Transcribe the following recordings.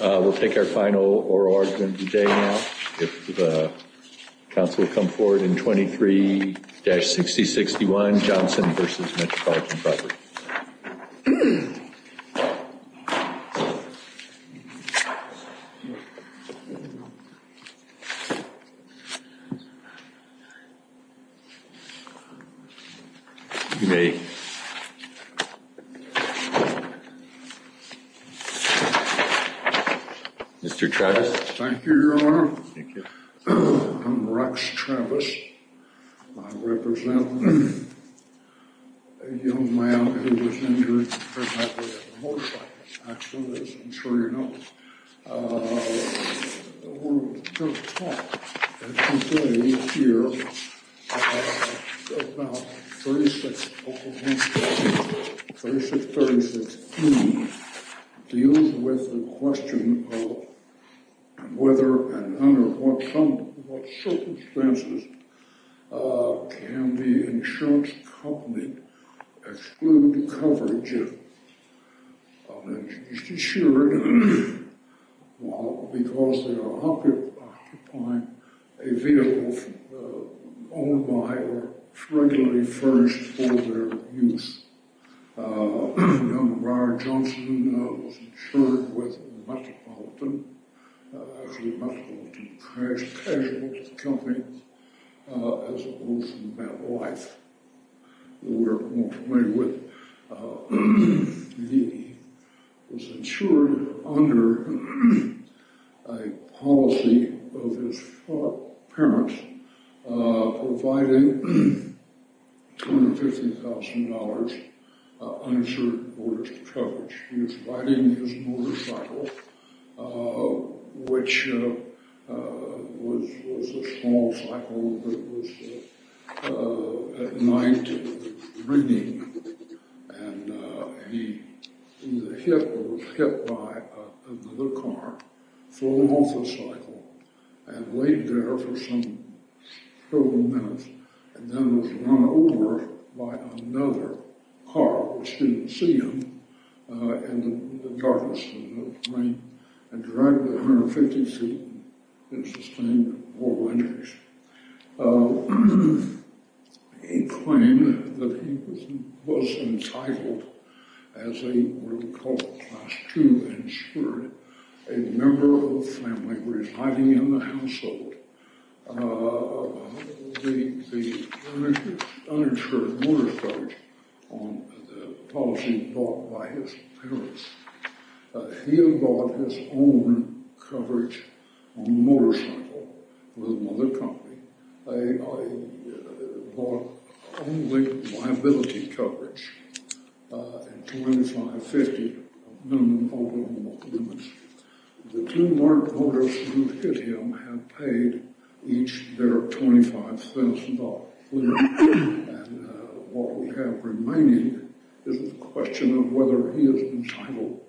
We'll take our final oral argument today now. If the council will come forward in 23-6061, Johnson v. Metropolitan Property. You may... Mr. Travis. Thank you, Your Honor. I'm Rex Travis. I represent a young man who was injured in a motorcycle accident, as I'm sure you know. We're going to talk today here about 36... 36-36E. It deals with the question of whether and under what circumstances can the insurance company exclude coverage of an injured... ...insured because they are occupying a vehicle owned by or regularly furnished for their use. Young Briar Johnson was insured with Metropolitan. Actually, Metropolitan Cash Casualty Company, as opposed to MetLife, who we're more familiar with. He was insured under a policy of his parents providing $250,000 uninsured mortgage coverage. He was riding his motorcycle, which was a small cycle that was at night reading. And he was hit by another car, flung off the cycle, and laid there for several minutes. And then was run over by another car, which didn't see him, in the darkness of the night. And drove to 150 feet and sustained a mortal injury. He claimed that he was entitled, as they would call it, Class II insured, a member of the family. He was hiding in the household. The uninsured mortgage coverage on the policy bought by his parents. He had bought his own coverage on the motorcycle with another company. They bought only liability coverage at $250,000 minimum over limits. The two mortgagors who hit him had paid each their $25,000. And what we have remaining is the question of whether he is entitled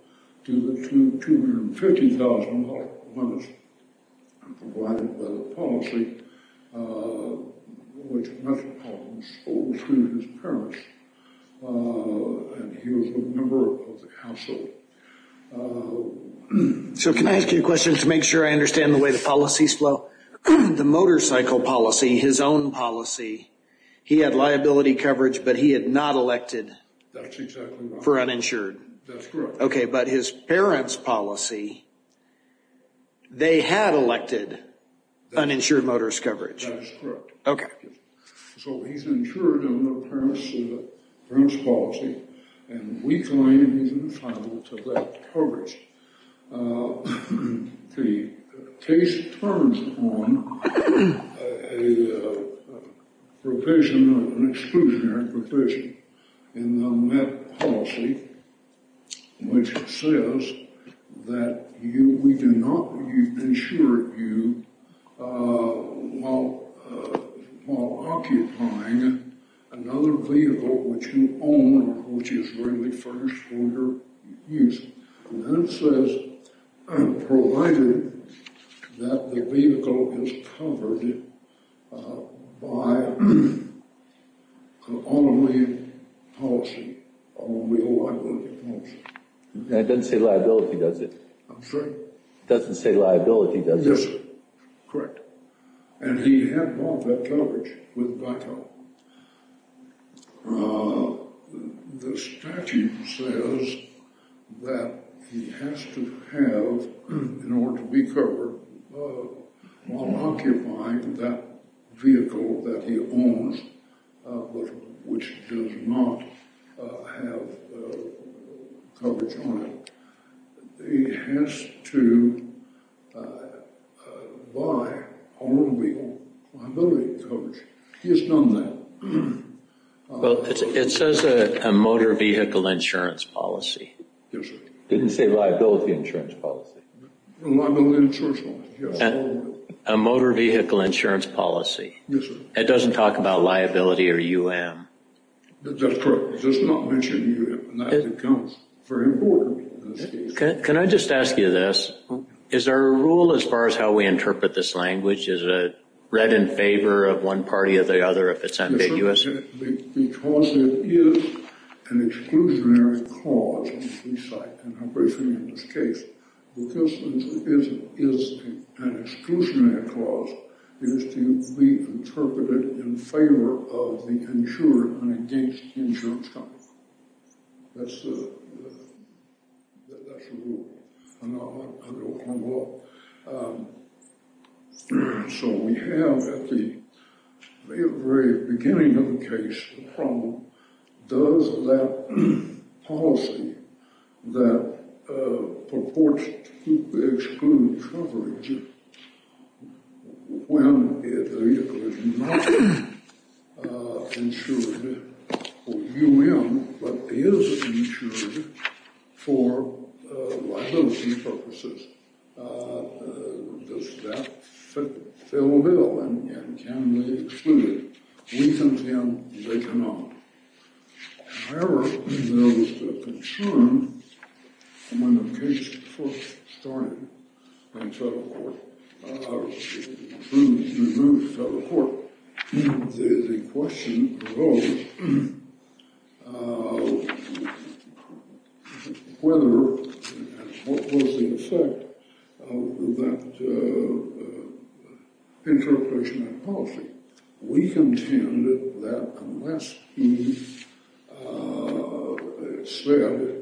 to the $250,000 bonus provided by the policy, which Metropolitan sold to his parents. And he was a member of the household. So can I ask you a question to make sure I understand the way the policies flow? The motorcycle policy, his own policy, he had liability coverage, but he had not elected for uninsured. That's correct. Okay, but his parents' policy, they had elected uninsured motorist coverage. That is correct. Okay. So he's insured on the parents' policy, and we claim he's entitled to that coverage. The case turns on a provision, an exclusionary provision in the Met policy, which says that we do not insure you while occupying another vehicle which you own, which is rarely furnished for your use. And then it says, provided that the vehicle is covered by an automobile policy, automobile liability policy. That doesn't say liability, does it? I'm sorry? It doesn't say liability, does it? It doesn't. Correct. And he had not that coverage with DICO. The statute says that he has to have, in order to be covered, while occupying that vehicle that he owns, which does not have coverage on it, he has to buy automobile liability coverage. He has done that. Well, it says a motor vehicle insurance policy. Yes, sir. It didn't say liability insurance policy. Liability insurance policy, yes. A motor vehicle insurance policy. Yes, sir. It doesn't talk about liability or UM. That's correct. It does not mention UM, and that becomes very important in this case. Can I just ask you this? Okay. Is there a rule as far as how we interpret this language? Is it read in favor of one party or the other if it's ambiguous? Because it is an exclusionary clause, and I'm briefing you on this case, because it is an exclusionary clause, it is to be interpreted in favor of the insured and against the insured company. That's the rule. I don't know. So we have at the very beginning of the case the problem, does that policy that purports to exclude coverage when the vehicle is not insured for UM but is insured for liability purposes? Does that fill the bill, and can they exclude it? We contend they cannot. However, there was a concern when the case first started in federal court. It was approved and removed in federal court. The question was whether and what was the effect of that interpretation of policy. We contend that unless he said,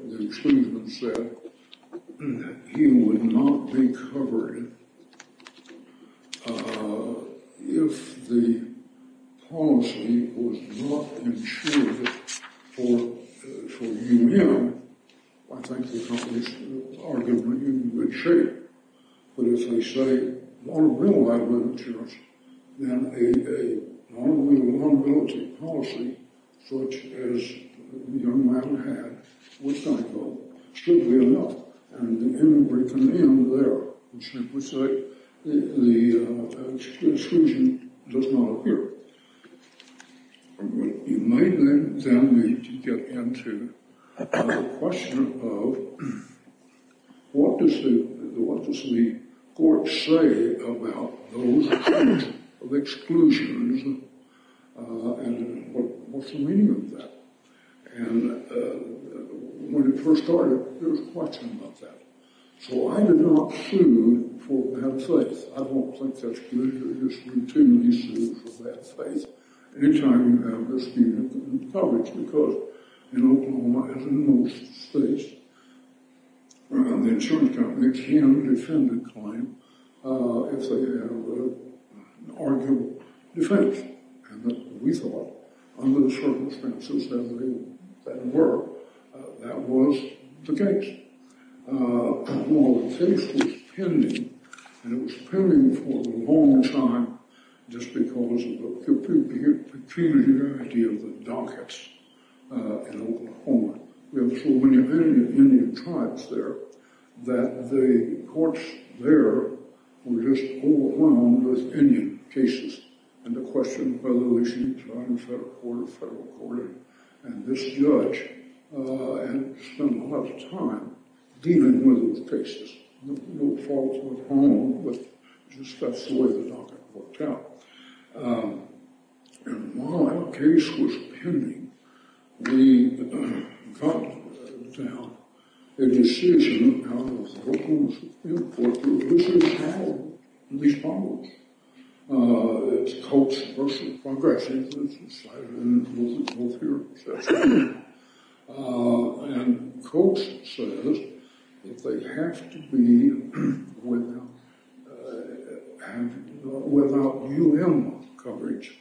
the exclusionary said, he would not be covered. If the policy was not insured for UM, I think the company is arguably in good shape. But if they say liability insurance, then a liability policy such as UM had, should be enough. And we can end there. We simply say the exclusion does not appear. You may then get into the question of what does the court say about those kinds of exclusions, and what's the meaning of that? And when it first started, there was a question about that. So I did not sue for bad faith. I don't think that's good. There's been too many suits for bad faith. Anytime you have misdemeanor coverage, because in Oklahoma, as in most states, the insurance company can defend a claim if they have an arguable defense. And we thought, under the circumstances that they were, that was the case. Well, the case was pending, and it was pending for a long time, just because of the peculiarity of the dockets in Oklahoma. So when you have Indian tribes there, that the courts there were just overwhelmed with Indian cases, and the question of whether they should be tried in federal court or federal court. And this judge had to spend a lot of time dealing with those cases. No fault of his own, but just that's the way the docket worked out. And my case was pending. We found a decision out of the Oklahoma Supreme Court, and this is how it responds. It's Coates versus Congress, and it's decided in both hearings. And Coates says that they have to be without U.N. coverage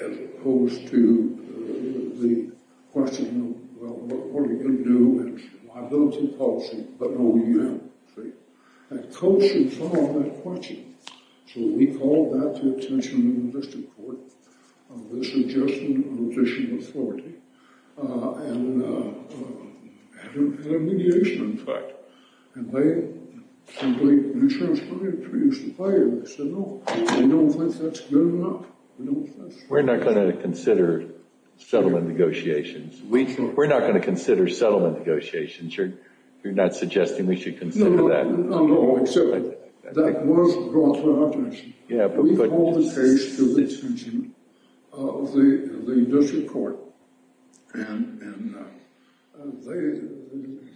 as opposed to the question, well, what are you going to do? It's a liability policy, but no U.N., see? And Coates should follow that question. So we called that to attention in the district court, with a suggestion of additional authority, and a mediation, in fact. And they simply, the insurance company introduced a fire, and they said no. They don't think that's good enough. We're not going to consider settlement negotiations. We're not going to consider settlement negotiations. You're not suggesting we should consider that? No, no, no. So that was brought to our attention. We called the case to the attention of the district court, and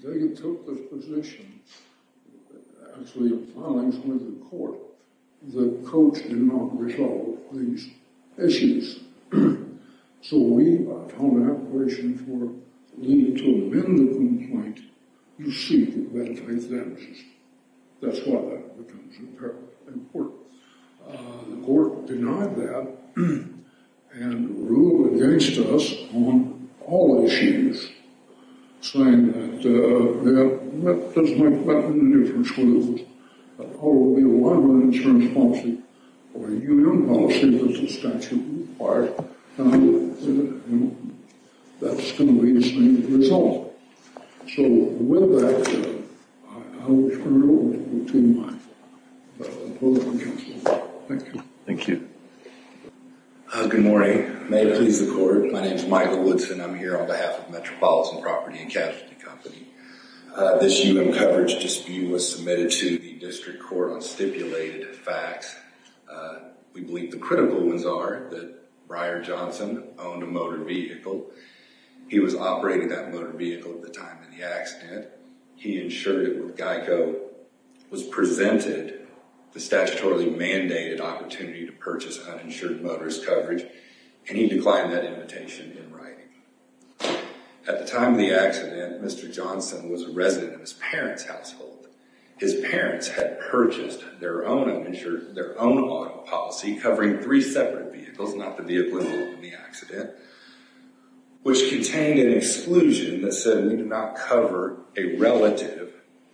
they took this position as we were filing it with the court, that Coates did not resolve these issues. So we filed an application for leave to amend the complaint. You see that it has damages. That's why that becomes important. The court denied that and ruled against us on all issues, saying that, well, that doesn't make much of a difference. The court will be a liability insurance policy, or a union policy, as the statute requires, and that's going to be the same result. So with that, I will turn it over to my colleague. Thank you. Thank you. Good morning. May it please the court. My name is Michael Woodson. I'm here on behalf of Metropolitan Property and Casualty Company. This human coverage dispute was submitted to the district court on stipulated facts. We believe the critical ones are that Briar Johnson owned a motor vehicle. He was operating that motor vehicle at the time of the accident. He insured it with Geico, was presented the statutorily mandated opportunity to purchase uninsured motorist coverage, and he declined that invitation in writing. At the time of the accident, Mr. Johnson was a resident in his parents' household. His parents had purchased their own auto policy covering three separate vehicles, not the vehicle involved in the accident, which contained an exclusion that said we do not cover a relative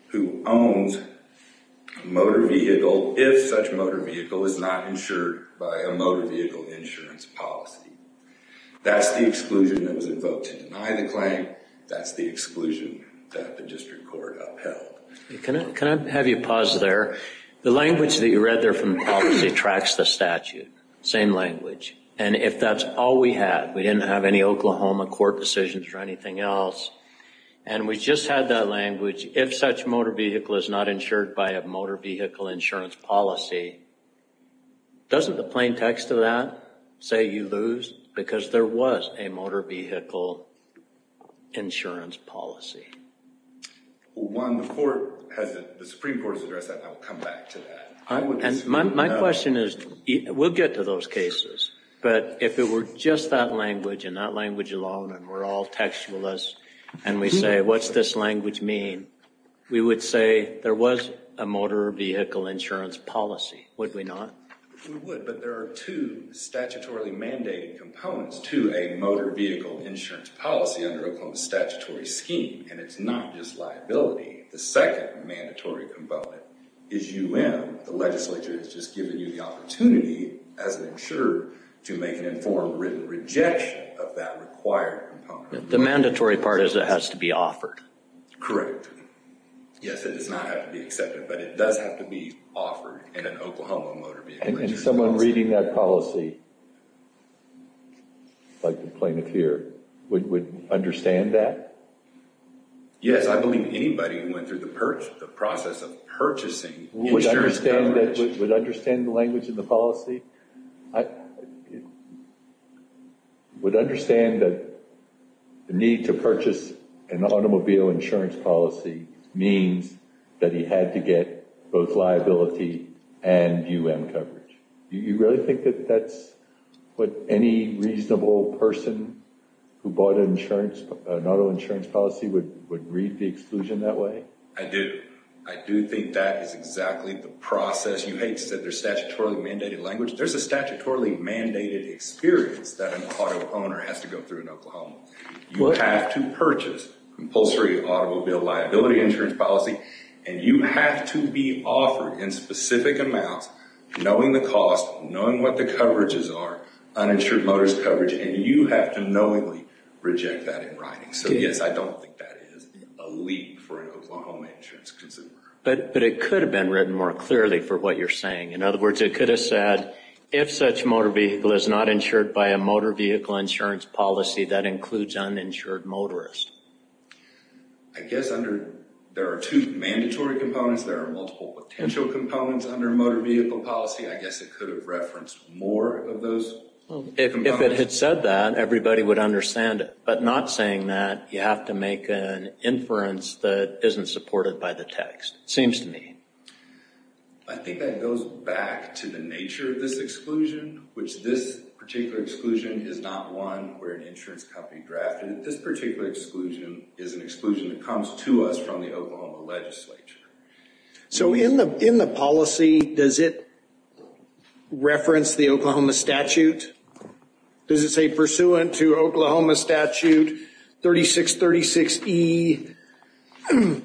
who owns a motor vehicle if such motor vehicle is not insured by a motor vehicle insurance policy. That's the exclusion that was invoked to deny the claim. That's the exclusion that the district court upheld. Can I have you pause there? The language that you read there from the policy tracks the statute, same language. And if that's all we have, we didn't have any Oklahoma court decisions or anything else, and we just had that language, if such motor vehicle is not insured by a motor vehicle insurance policy, doesn't the plain text of that say you lose? Because there was a motor vehicle insurance policy. One, the Supreme Court has addressed that, and I'll come back to that. My question is, we'll get to those cases, but if it were just that language and that language alone and we're all textualists and we say, what's this language mean? We would say there was a motor vehicle insurance policy, would we not? We would, but there are two statutorily mandated components to a motor vehicle insurance policy under Oklahoma's statutory scheme, and it's not just liability. The second mandatory component is UM. The legislature has just given you the opportunity as an insurer to make an informed written rejection of that required component. The mandatory part is it has to be offered. Correct. Yes, it does not have to be accepted, but it does have to be offered in an Oklahoma motor vehicle insurance policy. And someone reading that policy, like the plaintiff here, would understand that? Yes, I believe anybody who went through the process of purchasing insurance coverage. Would understand the language in the policy? I would understand that the need to purchase an automobile insurance policy means that he had to get both liability and UM coverage. Do you really think that that's what any reasonable person who bought an auto insurance policy would read the exclusion that way? I do. I do think that is exactly the process. You said there's statutorily mandated language. There's a statutorily mandated experience that an auto owner has to go through in Oklahoma. You have to purchase compulsory automobile liability insurance policy, and you have to be offered in specific amounts, knowing the cost, knowing what the coverages are, uninsured motorist coverage, and you have to knowingly reject that in writing. So, yes, I don't think that is a leap for an Oklahoma insurance consumer. But it could have been written more clearly for what you're saying. In other words, it could have said, if such motor vehicle is not insured by a motor vehicle insurance policy, that includes uninsured motorist. I guess there are two mandatory components. There are multiple potential components under motor vehicle policy. I guess it could have referenced more of those components. If it had said that, everybody would understand it, but not saying that you have to make an inference that isn't supported by the text, it seems to me. I think that goes back to the nature of this exclusion, which this particular exclusion is not one where an insurance company drafted it. This particular exclusion is an exclusion that comes to us from the Oklahoma legislature. So in the policy, does it reference the Oklahoma statute? Does it say, pursuant to Oklahoma statute 3636E,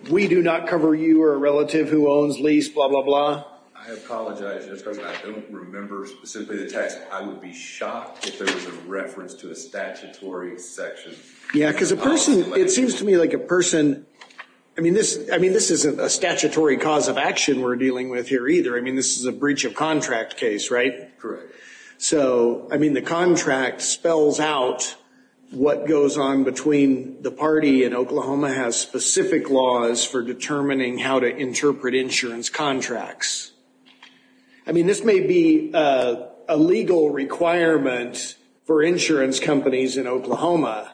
we do not cover you or a relative who owns lease, blah, blah, blah? I apologize, Mr. President. I don't remember specifically the text. I would be shocked if there was a reference to a statutory section. Yeah, because a person – it seems to me like a person – I mean, this isn't a statutory cause of action we're dealing with here either. I mean, this is a breach of contract case, right? Correct. So, I mean, the contract spells out what goes on between the party and Oklahoma has specific laws for determining how to interpret insurance contracts. I mean, this may be a legal requirement for insurance companies in Oklahoma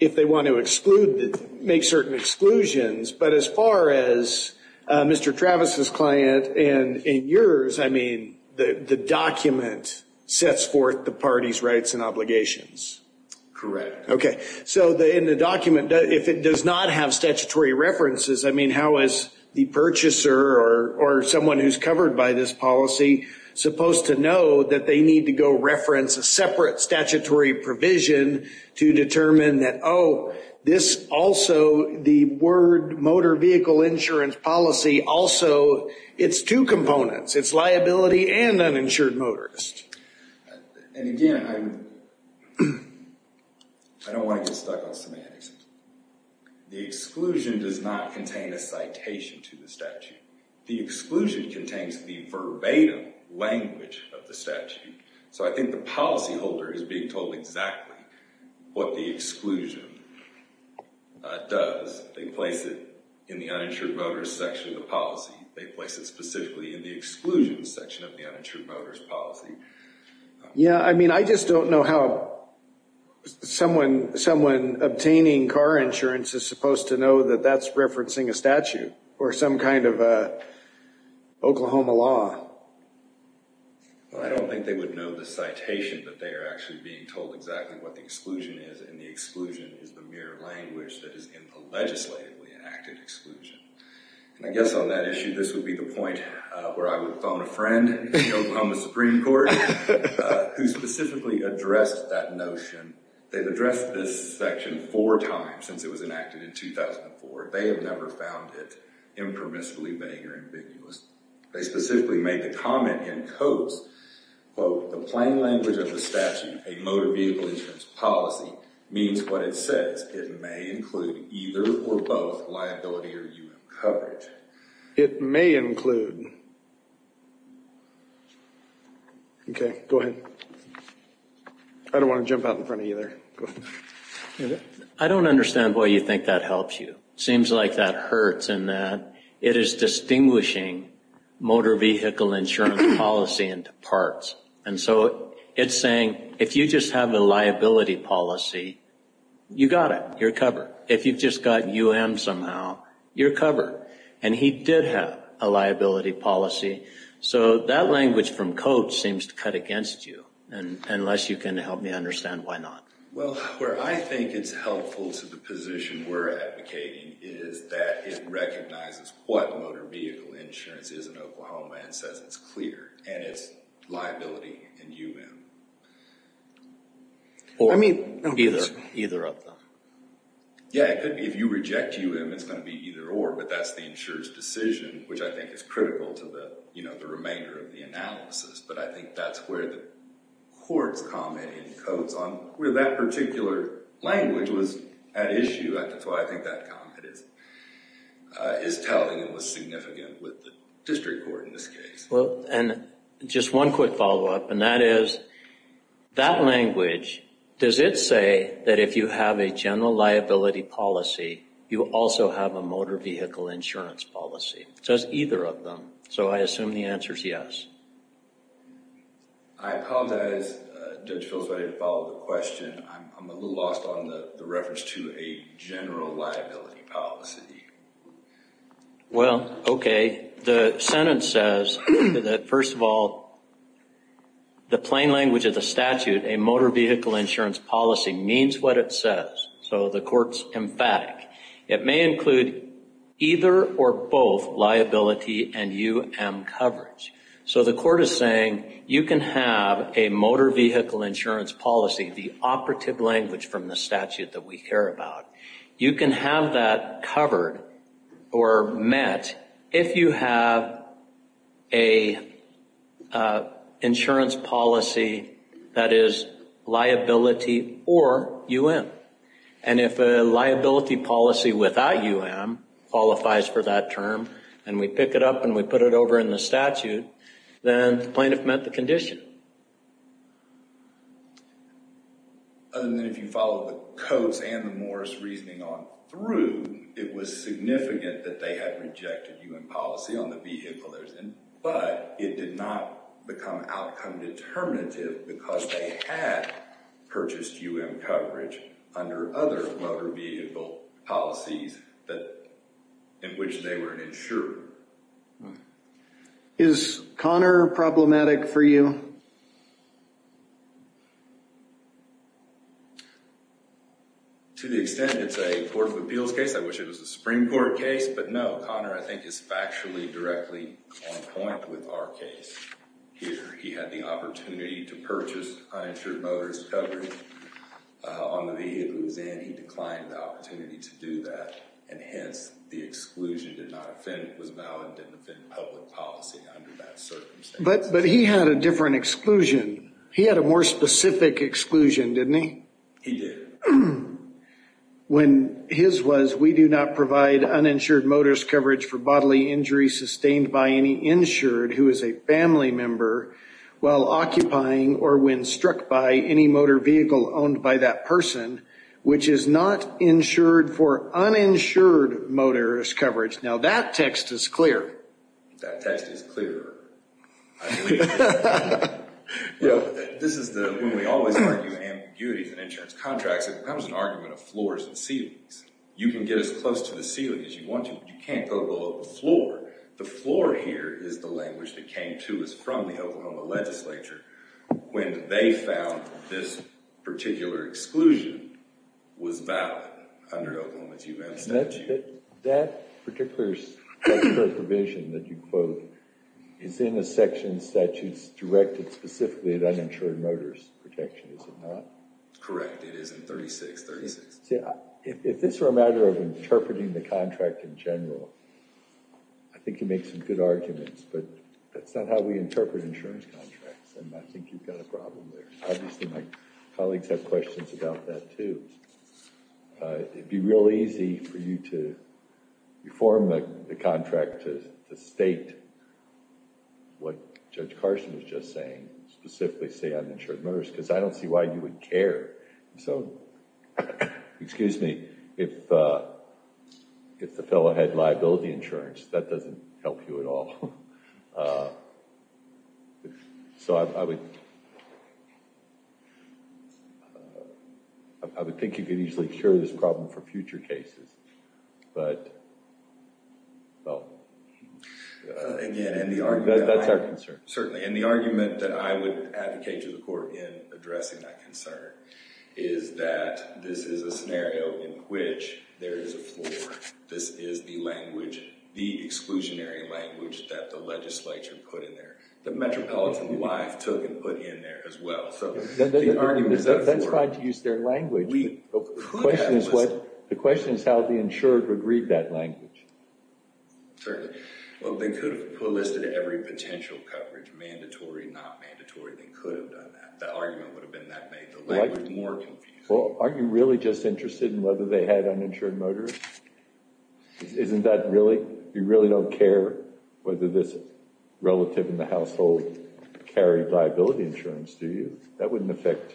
if they want to exclude – make certain exclusions, but as far as Mr. Travis's client and yours, I mean, the document sets forth the party's rights and obligations. Correct. Okay. So in the document, if it does not have statutory references, I mean, how is the purchaser or someone who's covered by this policy supposed to know that they need to go reference a separate statutory provision to determine that, oh, this also – the word motor vehicle insurance policy also – it's two components. It's liability and uninsured motorist. And again, I don't want to get stuck on semantics. The exclusion does not contain a citation to the statute. So I think the policyholder is being told exactly what the exclusion does. They place it in the uninsured motorist section of the policy. They place it specifically in the exclusion section of the uninsured motorist policy. Yeah, I mean, I just don't know how someone obtaining car insurance is supposed to know that that's referencing a statute or some kind of Oklahoma law. Well, I don't think they would know the citation, but they are actually being told exactly what the exclusion is, and the exclusion is the mere language that is in the legislatively enacted exclusion. And I guess on that issue, this would be the point where I would phone a friend in the Oklahoma Supreme Court who specifically addressed that notion. They've addressed this section four times since it was enacted in 2004. They have never found it impermissibly vague or ambiguous. They specifically made the comment in Coase, quote, the plain language of the statute, a motor vehicle insurance policy, means what it says. It may include either or both liability or human coverage. It may include. Okay, go ahead. I don't want to jump out in front of you there. I don't understand why you think that helps you. It seems like that hurts in that it is distinguishing motor vehicle insurance policy into parts. And so it's saying if you just have a liability policy, you got it. You're covered. If you've just got UM somehow, you're covered. And he did have a liability policy. So that language from Coase seems to cut against you, unless you can help me understand why not. Well, where I think it's helpful to the position we're advocating is that it recognizes what motor vehicle insurance is in Oklahoma and says it's clear, and it's liability in UM. Or either of them. Yeah, it could be. If you reject UM, it's going to be either or, but that's the insurer's decision, which I think is critical to the remainder of the analysis. But I think that's where the court's comment in Coase was on where that particular language was at issue. That's why I think that comment is telling and was significant with the district court in this case. Well, and just one quick follow-up, and that is, that language, does it say that if you have a general liability policy, you also have a motor vehicle insurance policy? It says either of them. So I assume the answer is yes. I apologize. Judge Phil's ready to follow the question. I'm a little lost on the reference to a general liability policy. Well, okay. The sentence says that, first of all, the plain language of the statute, a motor vehicle insurance policy, means what it says. So the court's emphatic. It may include either or both liability and UM coverage. So the court is saying you can have a motor vehicle insurance policy, the operative language from the statute that we care about, you can have that covered or met if you have an insurance policy that is liability or UM. And if a liability policy without UM qualifies for that term, and we pick it up and we put it over in the statute, then the plaintiff met the condition. And then if you follow the Coates and the Morris reasoning on through, it was significant that they had rejected UM policy on the vehicle, but it did not become outcome determinative because they had purchased UM coverage under other motor vehicle policies in which they were an insurer. Is Connor problematic for you? To the extent it's a Court of Appeals case, I wish it was a Supreme Court case, but no. Connor, I think, is factually directly on point with our case here. He had the opportunity to purchase uninsured motorist coverage on the vehicle he was in. He declined the opportunity to do that, and hence the exclusion did not offend, was valid and didn't offend public policy under that circumstance. But he had a different exclusion. He had a more specific exclusion, didn't he? He did. When his was we do not provide uninsured motorist coverage for bodily injury sustained by any insured who is a family member while occupying or when struck by any motor vehicle owned by that person, which is not insured for uninsured motorist coverage. Now that text is clear. That text is clearer. This is when we always argue ambiguities in insurance contracts, it becomes an argument of floors and ceilings. You can get as close to the ceiling as you want to, but you can't go below the floor. The floor here is the language that came to us from the Oklahoma legislature when they found this particular exclusion was valid under Oklahoma's U.N. statute. That particular subdivision that you quote is in a section of statutes directed specifically at uninsured motorist protection, is it not? Correct. It is in 3636. If this were a matter of interpreting the contract in general, I think you'd make some good arguments, but that's not how we interpret insurance contracts, and I think you've got a problem there. Obviously my colleagues have questions about that too. It would be real easy for you to form the contract to state what Judge Carson was just saying, specifically say uninsured motorist, because I don't see why you would care. Excuse me. If the fellow had liability insurance, that doesn't help you at all. I would think you could easily cure this problem for future cases. That's our concern. Certainly, and the argument that I would advocate to the court in addressing that concern is that this is a scenario in which there is a floor. This is the language, the exclusionary language, that the legislature put in there, that Metropolitan Life took and put in there as well. That's fine to use their language. The question is how the insured would read that language. Certainly. They could have listed every potential coverage, mandatory, not mandatory. They could have done that. The argument would have been that made the language more confusing. Aren't you really just interested in whether they had uninsured motorist? Isn't that really, you really don't care whether this relative in the household carried liability insurance, do you? That wouldn't affect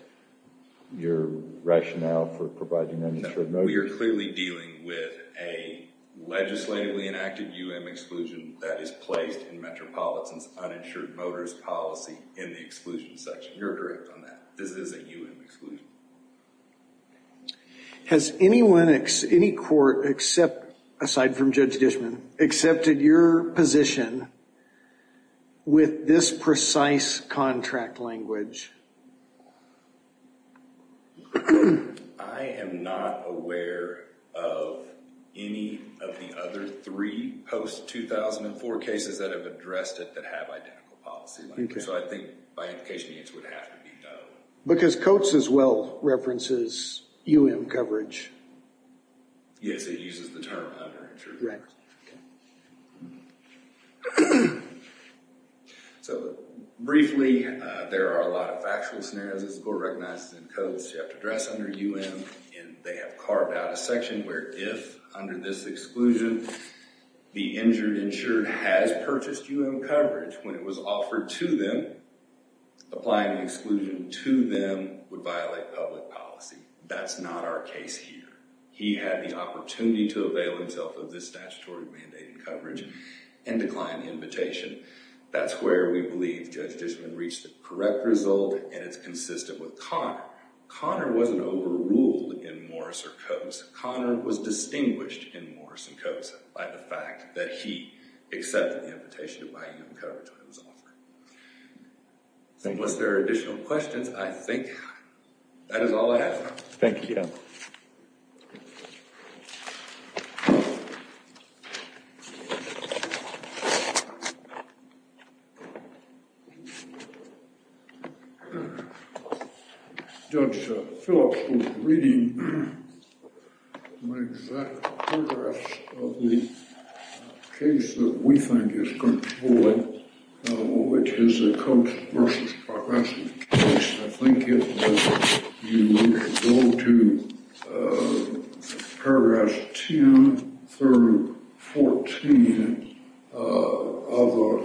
your rationale for providing uninsured motorist. We are clearly dealing with a legislatively enacted U.M. exclusion that is placed in Metropolitan's uninsured motorist policy in the exclusion section. You're direct on that. This is a U.M. exclusion. Has anyone, any court except, aside from Judge Dishman, accepted your position with this precise contract language? I am not aware of any of the other three post-2004 cases that have addressed it that have identical policy language. So I think by implication the answer would have to be no. Because Coates as well references U.M. coverage. Yes, it uses the term uninsured motorist. So briefly, there are a lot of factual scenarios that the court recognizes in Coates. You have to address under U.M. and they have carved out a section where if under this exclusion the injured insured has purchased U.M. coverage when it was offered to them, applying an exclusion to them would violate public policy. That's not our case here. He had the opportunity to avail himself of this statutory mandate and coverage and decline the invitation. That's where we believe Judge Dishman reached the correct result and it's consistent with Connor. Connor wasn't overruled in Morris or Coates. Connor was distinguished in Morris and Coates by the fact that he accepted the invitation to buy U.M. coverage when it was offered. Unless there are additional questions, I think that is all I have. Thank you. Judge Phillips was reading my exact paragraphs of the case that we think is going to be ruled, which is the Coates v. Progressive case. I think if you go to paragraphs 10 through 14, I thought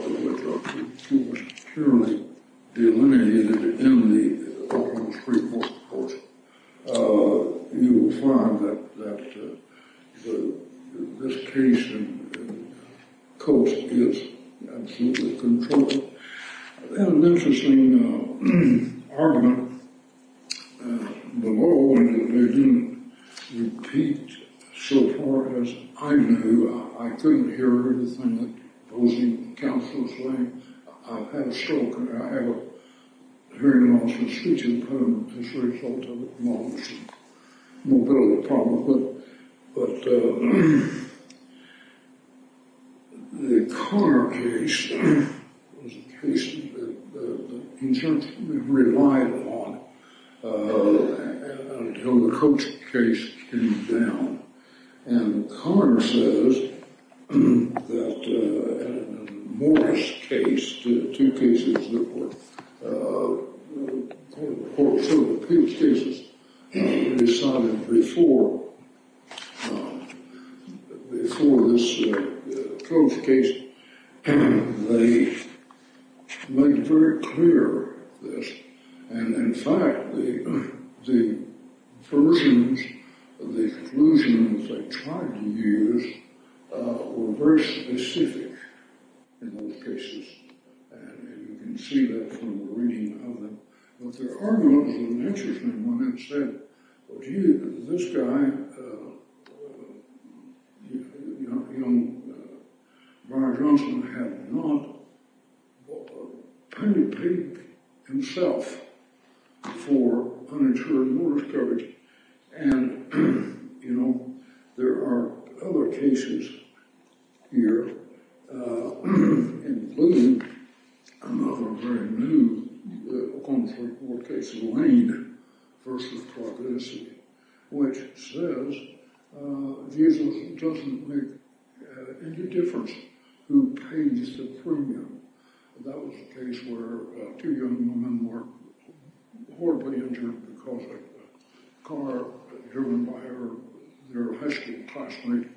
it was purely delineated in the Oakland Supreme Court report, you will find that this case and Coates is absolutely controlled. There's an interesting argument below, and they didn't repeat so far as I knew. I couldn't hear everything the opposing counsel was saying. I've had a stroke and I have a hearing loss and speech impairment as a result of it. But the Connor case was a case that the insurance company relied on until the Coates case came down. And Connor says that in the Morris case, the two cases that were sort of appealed cases decided before this Coates case, they made very clear this. And in fact, the versions of the conclusions they tried to use were very specific in those cases. And you can see that from the reading of them. But there are those with an interesting one that said, well, this guy, you know, Barr Johnson had not paid himself for uninsured Morris coverage. And, you know, there are other cases here, including another very new Oakland Supreme Court case, Lane v. Clark, Tennessee, which says Jesus doesn't make any difference who pays the premium. That was a case where two young women were horribly injured because a car driven by their high school classmate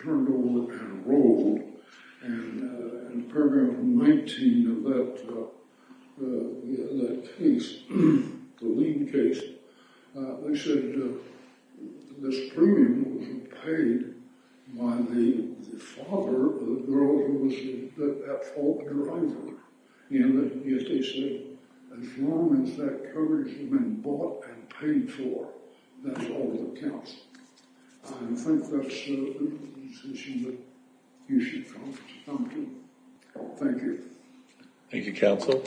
turned over and rolled. And in paragraph 19 of that case, the Lane case, they said this premium was paid by the father of the girl who was at fault and drove her. And they said as long as that coverage had been bought and paid for, that's all that counts. I think that's a decision that you should come to. Thank you. Thank you, Counsel.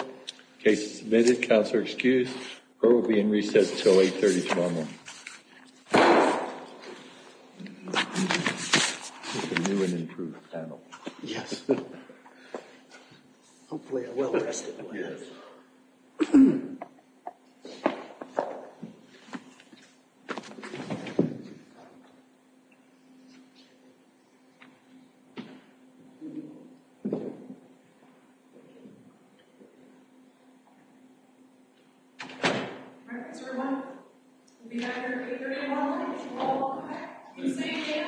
Case submitted. Counselor excused. Her will be in recess until 8.30 tomorrow morning. A new and improved panel. Yes. Hopefully a well-rested one. Yes. All right, that's where we want it. We'll be back here at 8.30 tomorrow morning. It's a long walk. I keep saying 8.00. Thank you.